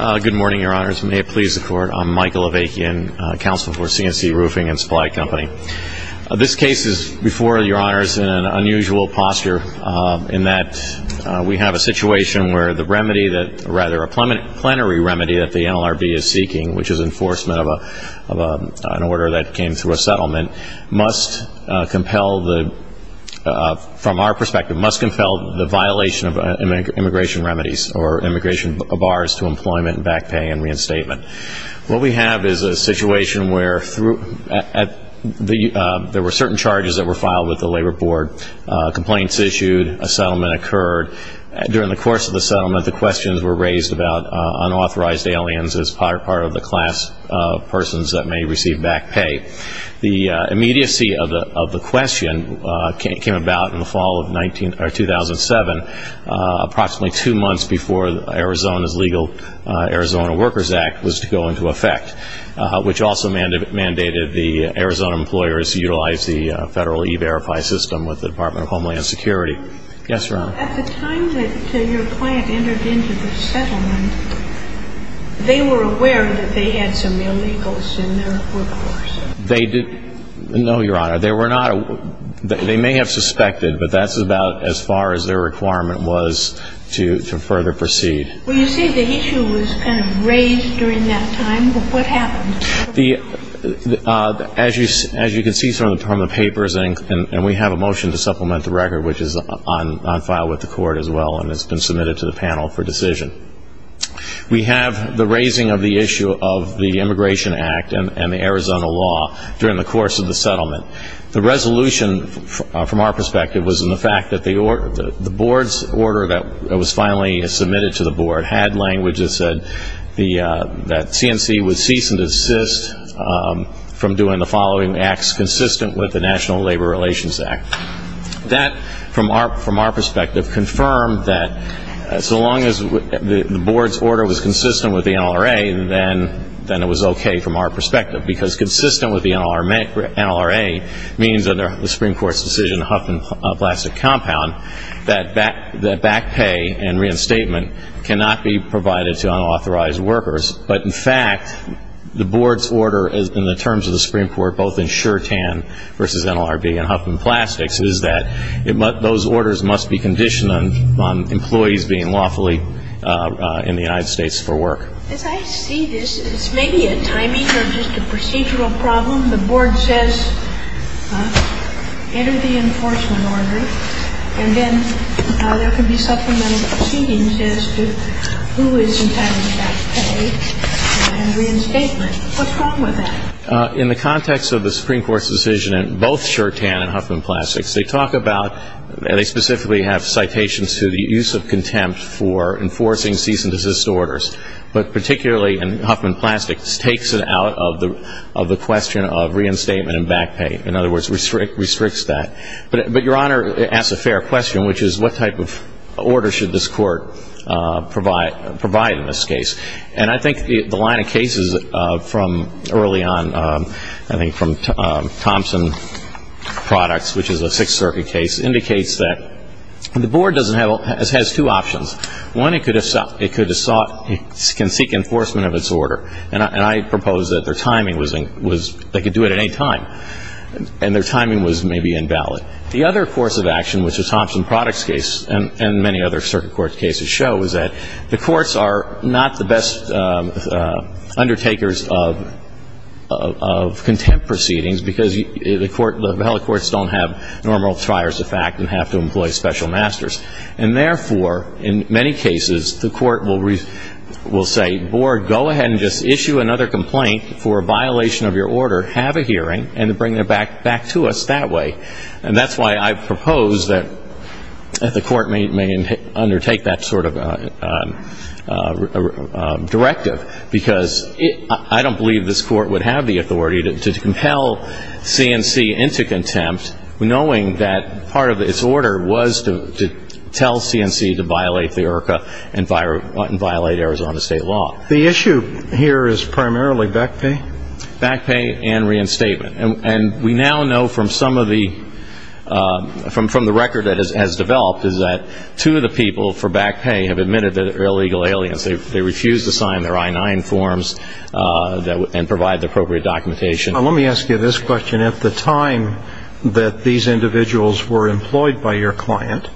Good morning, Your Honors. May it please the Court, I'm Michael Avakian, Counsel for C&C Roofing and Supply Company. This case is, before Your Honors, in an unusual posture in that we have a situation where the remedy that, rather a plenary remedy that the NLRB is seeking, which is enforcement of an order that came through a settlement, must compel the, from our perspective, must compel the violation of immigration remedies or immigration bars to employment, back pay, and reinstatement. What we have is a situation where there were certain charges that were filed with the Labor Board, complaints issued, a settlement occurred. During the course of the settlement, the questions were raised about unauthorized aliens as part of the class of persons that may receive back pay. The immediacy of the question came about in the fall of 2007, approximately two months before Arizona's legal Arizona Workers Act was to go into effect, which also mandated the Arizona employers utilize the federal e-verify system with the Department of Homeland Security. Yes, Your Honor. At the time that your client entered into the settlement, they were aware that they had some illegals in their workforce? They did not, Your Honor. They were not. They may have suspected, but that's about as far as their requirement was to further proceed. When you say the issue was kind of raised during that time, what happened? As you can see from the papers, and we have a motion to supplement the record, which is on file with the court as well and has been submitted to the panel for decision. We have the raising of the issue of the Immigration Act and the Arizona law during the course of the settlement. The resolution from our perspective was in the fact that the board's order that was finally submitted to the board had language that said that CNC would cease and desist from doing the following acts consistent with the National Labor Relations Act. That, from our perspective, confirmed that so long as the board's order was consistent with the NLRA, then it was okay from our perspective because consistent with the NLRA means under the Supreme Court's decision, Huffman Plastic Compound, that back pay and reinstatement cannot be provided to unauthorized workers. But, in fact, the board's order in the terms of the Supreme Court, both in Sure Tan versus NLRB and Huffman Plastics, is that those orders must be conditioned on employees being lawfully in the United States for work. As I see this, it's maybe a timing or just a procedural problem. The board says enter the enforcement order and then there can be supplemental proceedings as to who is entitled to back pay and reinstatement. What's wrong with that? In the context of the Supreme Court's decision in both Sure Tan and Huffman Plastics, they talk about and they specifically have citations to the use of contempt for enforcing cease and desist orders. But particularly in Huffman Plastics, it takes it out of the question of reinstatement and back pay. In other words, it restricts that. But, Your Honor, it asks a fair question, which is what type of order should this court provide in this case? And I think the line of cases from early on, I think from Thompson Products, which is a Sixth Circuit case, indicates that the board has two options. One, it can seek enforcement of its order. And I propose that their timing was they could do it at any time. And their timing was maybe invalid. The other course of action, which is Thompson Products' case and many other circuit court cases, shows that the courts are not the best undertakers of contempt proceedings because the valid courts don't have normal triers of fact and have to employ special masters. And therefore, in many cases, the court will say, Board, go ahead and just issue another complaint for a violation of your order, have a hearing, and bring it back to us that way. And that's why I propose that the court may undertake that sort of directive because I don't believe this court would have the authority to compel C&C into contempt, knowing that part of its order was to tell C&C to violate the IRCA and violate Arizona state law. The issue here is primarily back pay? Back pay and reinstatement. And we now know from some of the record that has developed is that two of the people for back pay have admitted that they're illegal aliens. They refused to sign their I-9 forms and provide the appropriate documentation. Now, let me ask you this question. At the time that these individuals were employed by your client,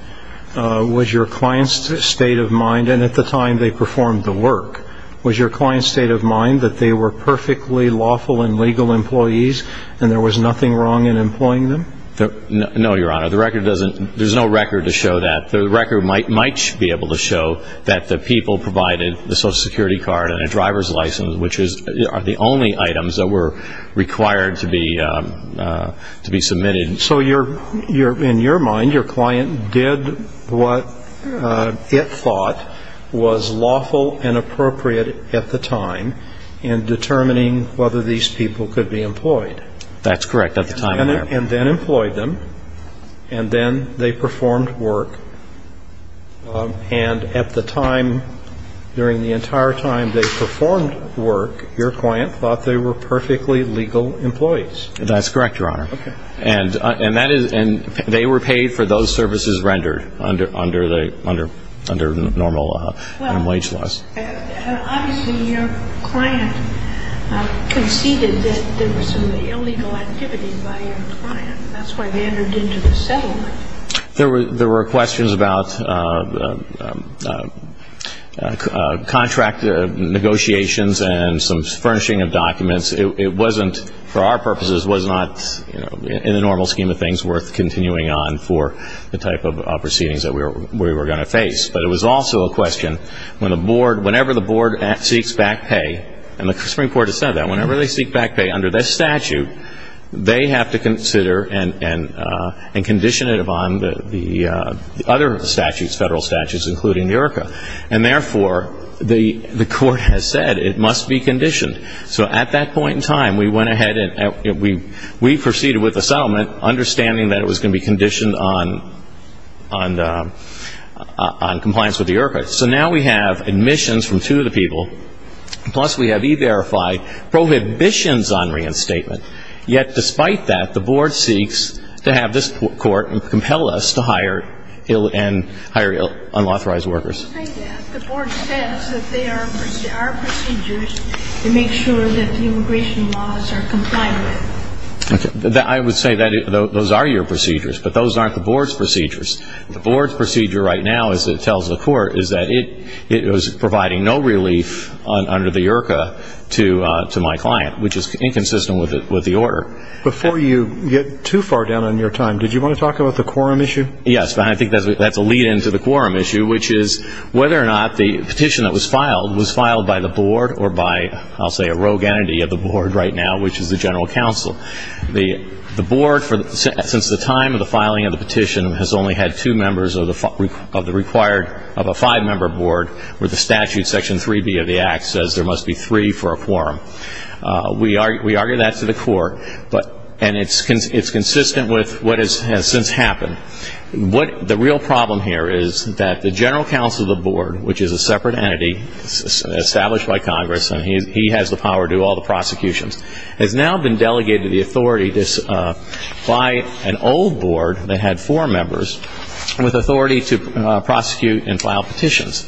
was your client's state of mind, and at the time they performed the work, was your client's state of mind that they were perfectly lawful and legal employees and there was nothing wrong in employing them? No, Your Honor. The record doesn't ñ there's no record to show that. The record might be able to show that the people provided the Social Security card and a driver's license, which are the only items that were required to be submitted. So in your mind, your client did what it thought was lawful and appropriate at the time in determining whether these people could be employed? That's correct. And then employed them, and then they performed work, and at the time, during the entire time they performed work, your client thought they were perfectly legal employees. That's correct, Your Honor. Okay. And they were paid for those services rendered under normal wage laws. Well, obviously your client conceded that there was some illegal activity by your client. That's why they entered into the settlement. There were questions about contract negotiations and some furnishing of documents. It wasn't, for our purposes, was not in the normal scheme of things worth continuing on for the type of proceedings that we were going to face. But it was also a question, whenever the board seeks back pay, and the Supreme Court has said that, whenever they seek back pay under this statute, they have to consider and condition it upon the other statutes, federal statutes, including the IRCA. And therefore, the court has said it must be conditioned. So at that point in time, we went ahead and we proceeded with the settlement, understanding that it was going to be conditioned on compliance with the IRCA. So now we have admissions from two of the people, plus we have e-verified prohibitions on reinstatement. Yet despite that, the board seeks to have this court compel us to hire unauthorized workers. The board says that there are procedures to make sure that the immigration laws are complied with. I would say that those are your procedures, but those aren't the board's procedures. The board's procedure right now, as it tells the court, is that it was providing no relief under the IRCA to my client, which is inconsistent with the order. Before you get too far down on your time, did you want to talk about the quorum issue? Yes. I think that's a lead-in to the quorum issue, which is whether or not the petition that was filed was filed by the board or by, I'll say, a rogue entity of the board right now, which is the general counsel. The board, since the time of the filing of the petition, has only had two members of the required, of a five-member board, where the statute, Section 3B of the Act, says there must be three for a quorum. We argue that to the court, and it's consistent with what has since happened. The real problem here is that the general counsel of the board, which is a separate entity established by Congress, and he has the power to do all the prosecutions, has now been delegated the authority by an old board that had four members with authority to prosecute and file petitions.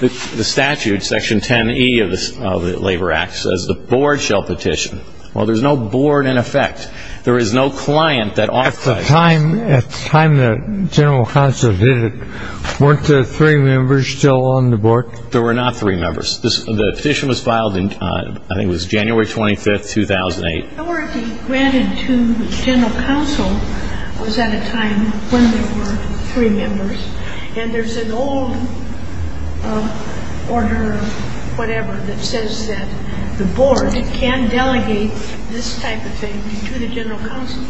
The statute, Section 10E of the Labor Act, says the board shall petition. Well, there's no board in effect. There is no client that ought to. At the time the general counsel did it, weren't there three members still on the board? There were not three members. The petition was filed in, I think it was January 25, 2008. The authority granted to the general counsel was at a time when there were three members, and there's an old order, whatever, that says that the board can delegate this type of thing to the general counsel.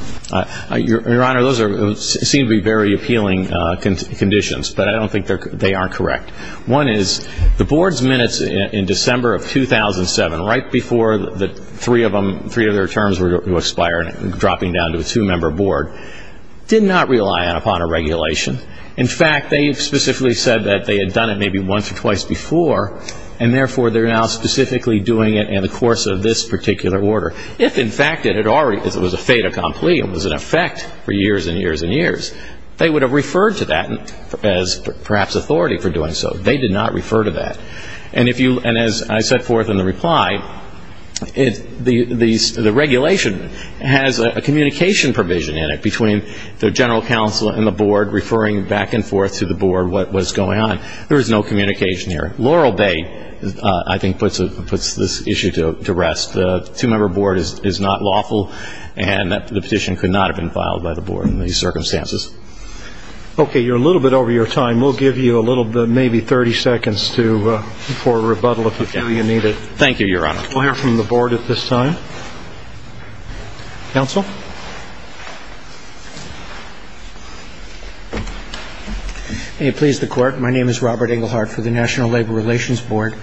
Your Honor, those seem to be very appealing conditions, but I don't think they are correct. One is the board's minutes in December of 2007, right before the three of their terms were to expire and dropping down to a two-member board, did not rely upon a regulation. In fact, they specifically said that they had done it maybe once or twice before, and therefore they're now specifically doing it in the course of this particular order. If, in fact, it was a fait accompli, it was in effect for years and years and years, they would have referred to that as perhaps authority for doing so. They did not refer to that. And as I set forth in the reply, the regulation has a communication provision in it between the general counsel and the board, referring back and forth to the board what was going on. There was no communication there. Laurel Bay, I think, puts this issue to rest. The two-member board is not lawful, and the petition could not have been filed by the board in these circumstances. Okay. You're a little bit over your time. We'll give you a little bit, maybe 30 seconds for a rebuttal if you feel you need it. Thank you, Your Honor. We'll hear from the board at this time. Counsel? May it please the Court. My name is Robert Englehardt for the National Labor Relations Board.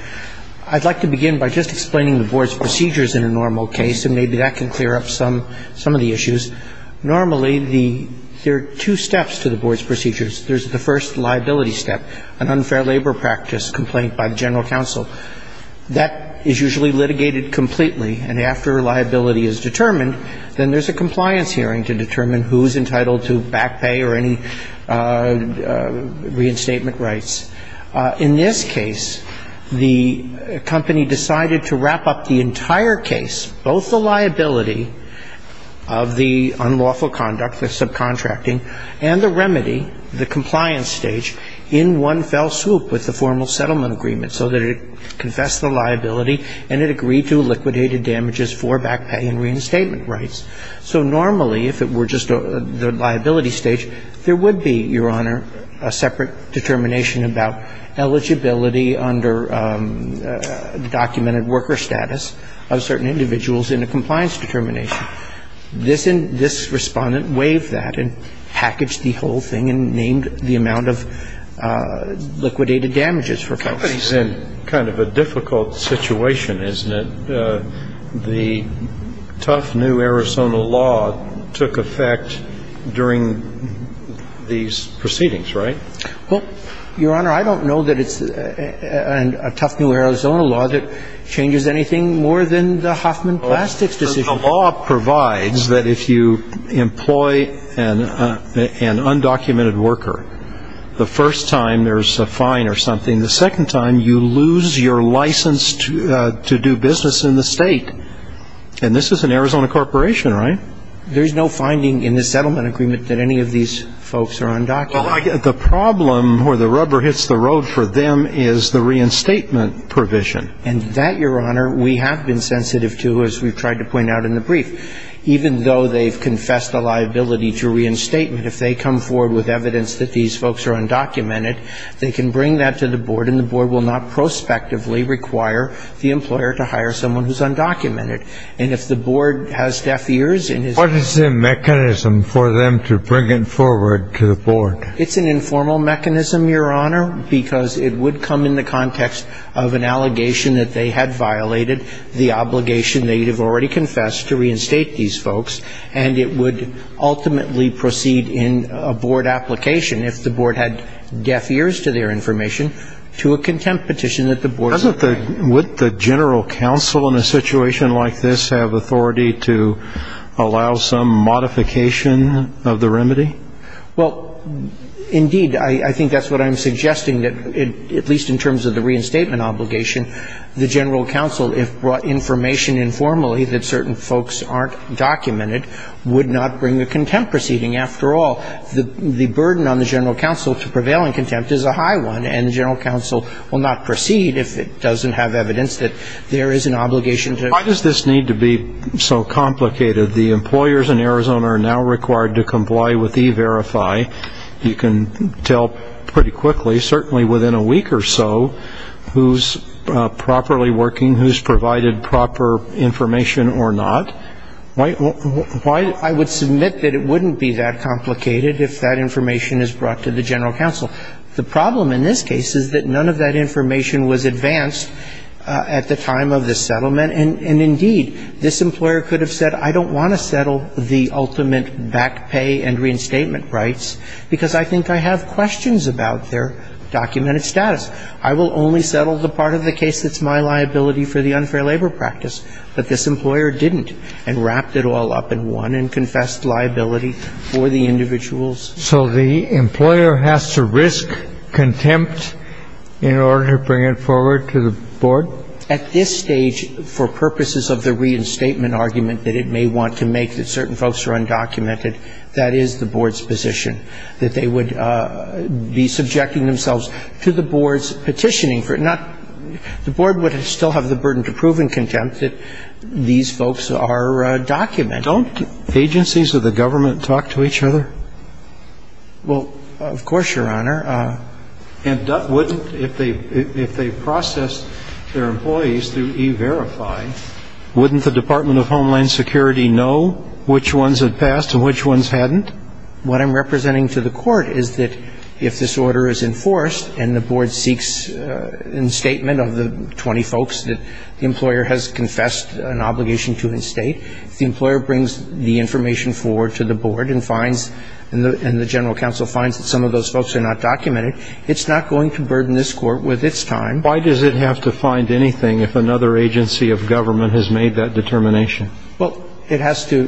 I'd like to begin by just explaining the board's procedures in a normal case, and maybe that can clear up some of the issues. Normally, there are two steps to the board's procedures. There's the first liability step, an unfair labor practice complaint by the general counsel. That is usually litigated completely, and after liability is determined, then there's a compliance hearing to determine who is entitled to back pay or any reinstatement rights. In this case, the company decided to wrap up the entire case, both the liability of the unlawful conduct, the subcontracting, and the remedy, the compliance stage, in one fell swoop with the formal settlement agreement so that it confessed the liability and it agreed to liquidated damages for back pay and reinstatement rights. So normally, if it were just the liability stage, there would be, Your Honor, a separate determination about eligibility under documented worker status of certain individuals in a compliance determination. This Respondent waived that and packaged the whole thing and named the amount of liquidated damages for folks. It's kind of a difficult situation, isn't it? The tough new Arizona law took effect during these proceedings, right? Well, Your Honor, I don't know that it's a tough new Arizona law that changes anything more than the Hoffman Plastics decision. The law provides that if you employ an undocumented worker, the first time there's a fine or something. The second time, you lose your license to do business in the state. And this is an Arizona corporation, right? There's no finding in the settlement agreement that any of these folks are undocumented. The problem where the rubber hits the road for them is the reinstatement provision. And that, Your Honor, we have been sensitive to as we've tried to point out in the brief. Even though they've confessed the liability to reinstatement, if they come forward with evidence that these folks are undocumented, they can bring that to the board and the board will not prospectively require the employer to hire someone who's undocumented. And if the board has deaf ears and is not going to hire them, What is the mechanism for them to bring it forward to the board? It's an informal mechanism, Your Honor, because it would come in the context of an allegation that they had violated, the obligation they have already confessed to reinstate these folks, and it would ultimately proceed in a board application, if the board had deaf ears to their information, to a contempt petition that the board would grant. Would the general counsel in a situation like this have authority to allow some modification of the remedy? Well, indeed, I think that's what I'm suggesting, that at least in terms of the reinstatement obligation, the general counsel, if brought information informally that certain folks aren't documented, would not bring a contempt proceeding. After all, the burden on the general counsel to prevail in contempt is a high one, and the general counsel will not proceed if it doesn't have evidence that there is an obligation to Why does this need to be so complicated? The employers in Arizona are now required to comply with E-Verify. You can tell pretty quickly, certainly within a week or so, who's properly working, who's provided proper information or not. I would submit that it wouldn't be that complicated if that information is brought to the general counsel. The problem in this case is that none of that information was advanced at the time of the settlement, and, indeed, this employer could have said, I don't want to settle the ultimate back pay and reinstatement rights because I think I have questions about their documented status. I will only settle the part of the case that's my liability for the unfair labor practice. But this employer didn't and wrapped it all up in one and confessed liability for the individuals. So the employer has to risk contempt in order to bring it forward to the board? At this stage, for purposes of the reinstatement argument that it may want to make, that certain folks are undocumented, that is the board's position, that they would be subjecting themselves to the board's petitioning. The board would still have the burden to prove in contempt that these folks are documented. Don't agencies of the government talk to each other? Well, of course, Your Honor. And wouldn't, if they processed their employees through E-Verify, wouldn't the Department of Homeland Security know which ones had passed and which ones hadn't? What I'm representing to the Court is that if this order is enforced and the board seeks instatement of the 20 folks that the employer has confessed an obligation to instate, if the employer brings the information forward to the board and finds and the general counsel finds that some of those folks are not documented, it's not going to burden this Court with its time. Why does it have to find anything if another agency of government has made that determination? Well, it has to.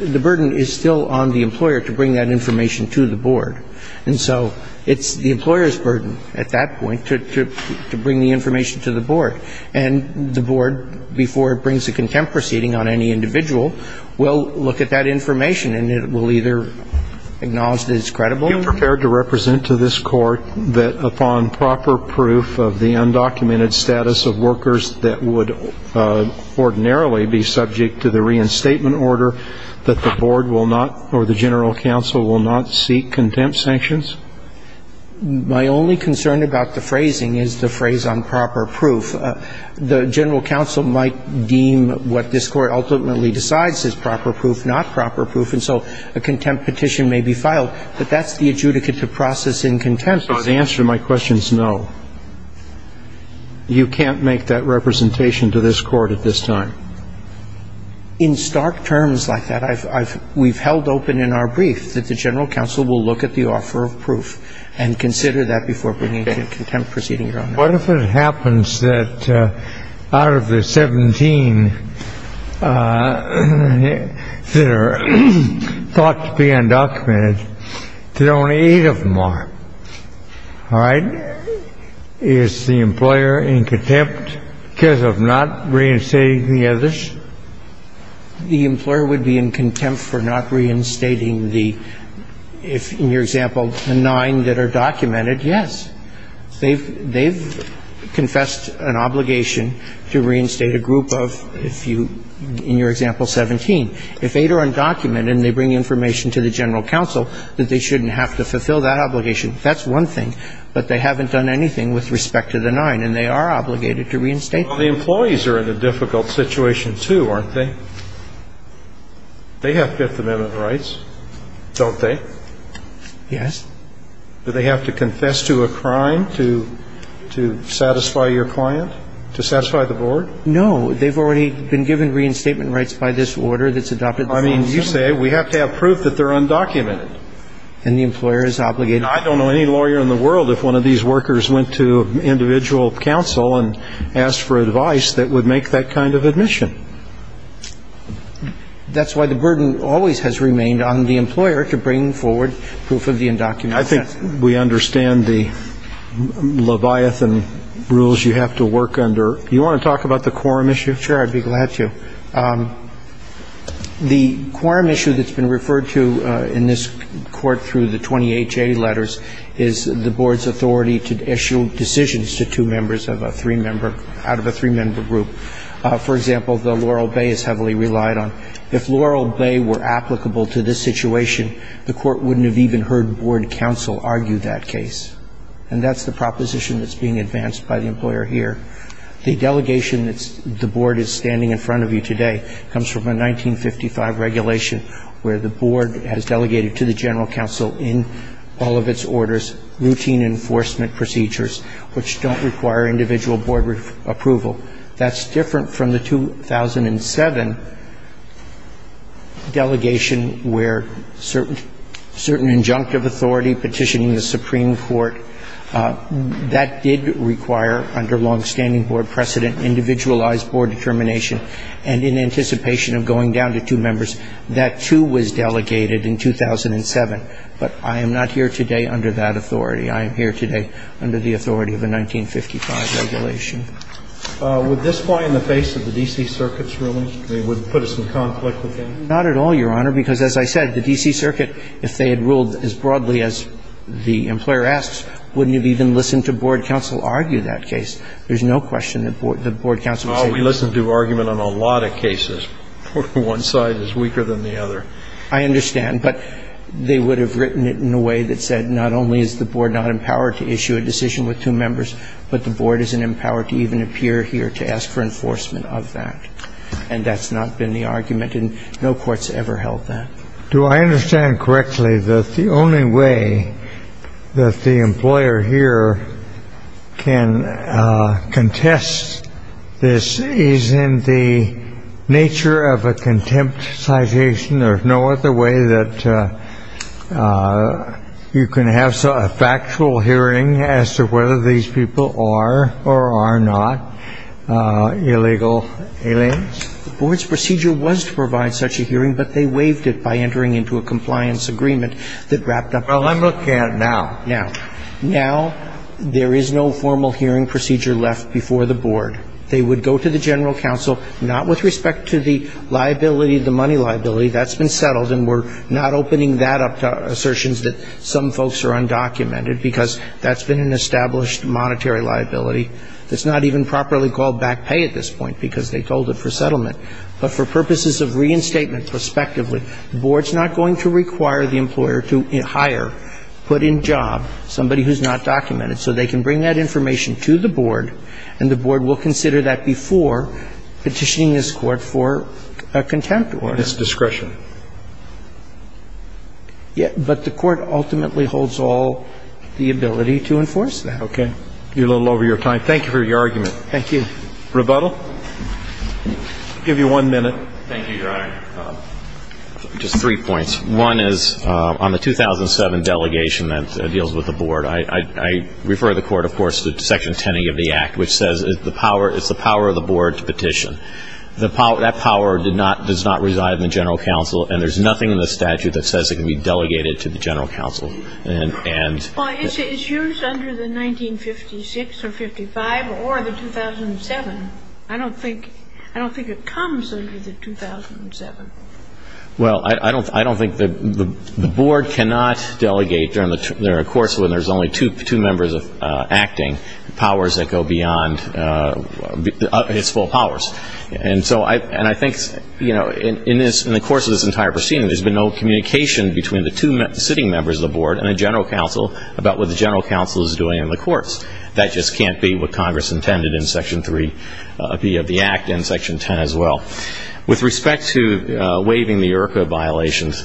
The burden is still on the employer to bring that information to the board. And so it's the employer's burden at that point to bring the information to the board. And the board, before it brings a contempt proceeding on any individual, will look at that information and it will either acknowledge that it's credible. Are you prepared to represent to this Court that upon proper proof of the undocumented status of workers that would ordinarily be subject to the reinstatement order, that the board will not or the general counsel will not seek contempt sanctions? My only concern about the phrasing is the phrase, on proper proof. The general counsel might deem what this Court ultimately decides is proper proof, not proper proof. And so a contempt petition may be filed. But that's the adjudicate to process in contempt. So the answer to my question is no. You can't make that representation to this Court at this time. In stark terms like that, we've held open in our brief that the general counsel will look at the offer of proof and consider that before bringing a contempt proceeding, Your Honor. What if it happens that out of the 17 that are thought to be undocumented, that only eight of them are? All right? Is the employer in contempt because of not reinstating the others? The employer would be in contempt for not reinstating the – if, in your example, the nine that are documented, yes. They've confessed an obligation to reinstate a group of, if you – in your example, 17. If eight are undocumented and they bring information to the general counsel that they shouldn't have to fulfill that obligation, that's one thing. But they haven't done anything with respect to the nine, and they are obligated to reinstate them. Well, the employees are in a difficult situation, too, aren't they? They have Fifth Amendment rights, don't they? Yes. Do they have to confess to a crime to satisfy your client, to satisfy the board? No. They've already been given reinstatement rights by this order that's adopted. I mean, you say we have to have proof that they're undocumented. And the employer is obligated. I don't know any lawyer in the world if one of these workers went to individual counsel and asked for advice that would make that kind of admission. That's why the burden always has remained on the employer to bring forward proof of the undocumented. I think we understand the leviathan rules you have to work under. Do you want to talk about the quorum issue? Sure, I'd be glad to. The quorum issue that's been referred to in this court through the 20HA letters is the board's authority to issue decisions to two members of a three-member – out of a three-member group. For example, the Laurel Bay is heavily relied on. If Laurel Bay were applicable to this situation, the court wouldn't have even heard board counsel argue that case. And that's the proposition that's being advanced by the employer here. The delegation that the board is standing in front of you today comes from a 1955 regulation where the board has delegated to the general counsel in all of its orders routine enforcement procedures which don't require individual board approval. That's different from the 2007 delegation where certain injunctive authority petitioning the Supreme Court, that did require under longstanding board precedent individualized board determination. And in anticipation of going down to two members, that too was delegated in 2007. But I am not here today under that authority. I am here today under the authority of a 1955 regulation. Would this lie in the face of the D.C. Circuit's ruling? I mean, would it put us in conflict with them? Not at all, Your Honor. Because as I said, the D.C. Circuit, if they had ruled as broadly as the employer asks, wouldn't have even listened to board counsel argue that case. There's no question that board counsel would say that. We listen to argument on a lot of cases. One side is weaker than the other. I understand. But they would have written it in a way that said not only is the board not empowered to issue a decision with two members, but the board isn't empowered to even appear here to ask for enforcement of that. And that's not been the argument. And no court's ever held that. Do I understand correctly that the only way that the employer here can contest this is in the nature of a contempt citation? There's no other way that you can have a factual hearing as to whether these people are or are not illegal aliens? The board's procedure was to provide such a hearing, but they waived it by entering into a compliance agreement that wrapped up the hearing. Well, let me look at it now. Now there is no formal hearing procedure left before the board. They would go to the general counsel, not with respect to the liability, the money liability. That's been settled, and we're not opening that up to assertions that some folks are undocumented, because that's been an established monetary liability. It's not even properly called back pay at this point, because they told it for settlement. But for purposes of reinstatement, respectively, the board's not going to require the employer to hire, put in job, somebody who's not documented. So they can bring that information to the board, and the board will consider that before petitioning this Court for a contempt order. And that's discretion. Yeah. But the Court ultimately holds all the ability to enforce that. Okay. You're a little over your time. Thank you for your argument. Thank you. Rebuttal? I'll give you one minute. Thank you, Your Honor. Just three points. One is on the 2007 delegation that deals with the board, I refer the Court, of course, to Section 10A of the Act, which says it's the power of the board to petition. That power does not reside in the General Counsel, and there's nothing in the statute that says it can be delegated to the General Counsel. Well, it's used under the 1956 or 55 or the 2007. I don't think it comes under the 2007. Well, I don't think the board cannot delegate during a course when there's only two members acting, powers that go beyond its full powers. And I think in the course of this entire proceeding, there's been no communication between the two sitting members of the board and the General Counsel about what the General Counsel is doing in the courts. That just can't be what Congress intended in Section 3B of the Act and Section 10 as well. With respect to waiving the IRCA violations,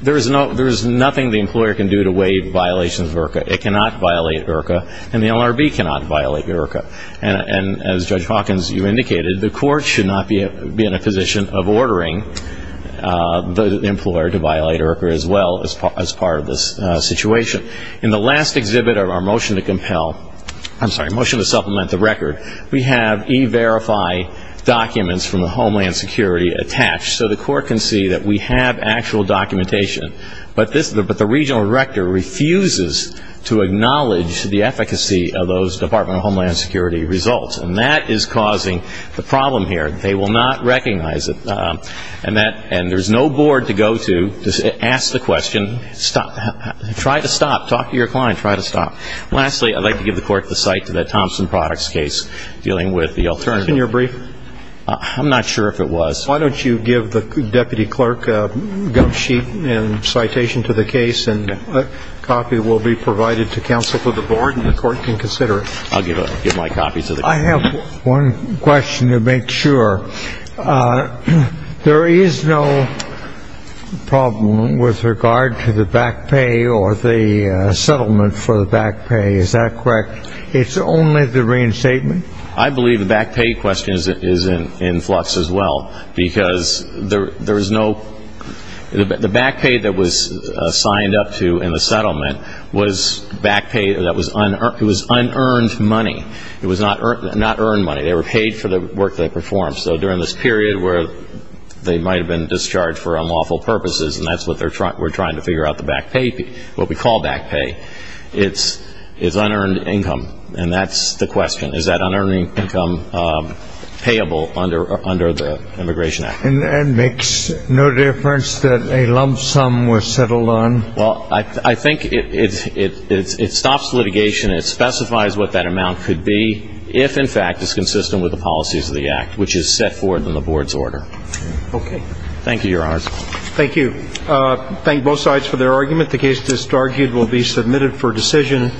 there is nothing the employer can do to waive violations of IRCA. It cannot violate IRCA. And the LRB cannot violate IRCA. And as Judge Hawkins, you indicated, the court should not be in a position of ordering the employer to violate IRCA as well as part of this situation. In the last exhibit of our motion to compel, I'm sorry, motion to supplement the record, we have E-Verify documents from the Homeland Security attached, so the court can see that we have actual documentation. But the regional director refuses to acknowledge the efficacy of those Department of Homeland Security results. And that is causing the problem here. They will not recognize it. And there's no board to go to to ask the question, try to stop. Talk to your client. Try to stop. Lastly, I'd like to give the court the sight to that Thompson Products case dealing with the alternative. Was that in your brief? I'm not sure if it was. Why don't you give the deputy clerk a gum sheet and citation to the case, and a copy will be provided to counsel for the board, and the court can consider it. I'll give my copy to the court. I have one question to make sure. There is no problem with regard to the back pay or the settlement for the back pay. Is that correct? It's only the reinstatement? I believe the back pay question is in flux as well. Because the back pay that was signed up to in the settlement was back pay that was unearned money. It was not earned money. They were paid for the work they performed. So during this period where they might have been discharged for unlawful purposes, and that's what we're trying to figure out the back pay, what we call back pay, is unearned income. And that's the question. Is that unearned income payable under the Immigration Act? And makes no difference that a lump sum was settled on? Well, I think it stops litigation. It specifies what that amount could be if, in fact, it's consistent with the policies of the Act, which is set forth in the board's order. Okay. Thank you, Your Honor. Thank you. Thank both sides for their argument. The case that's argued will be submitted for decision.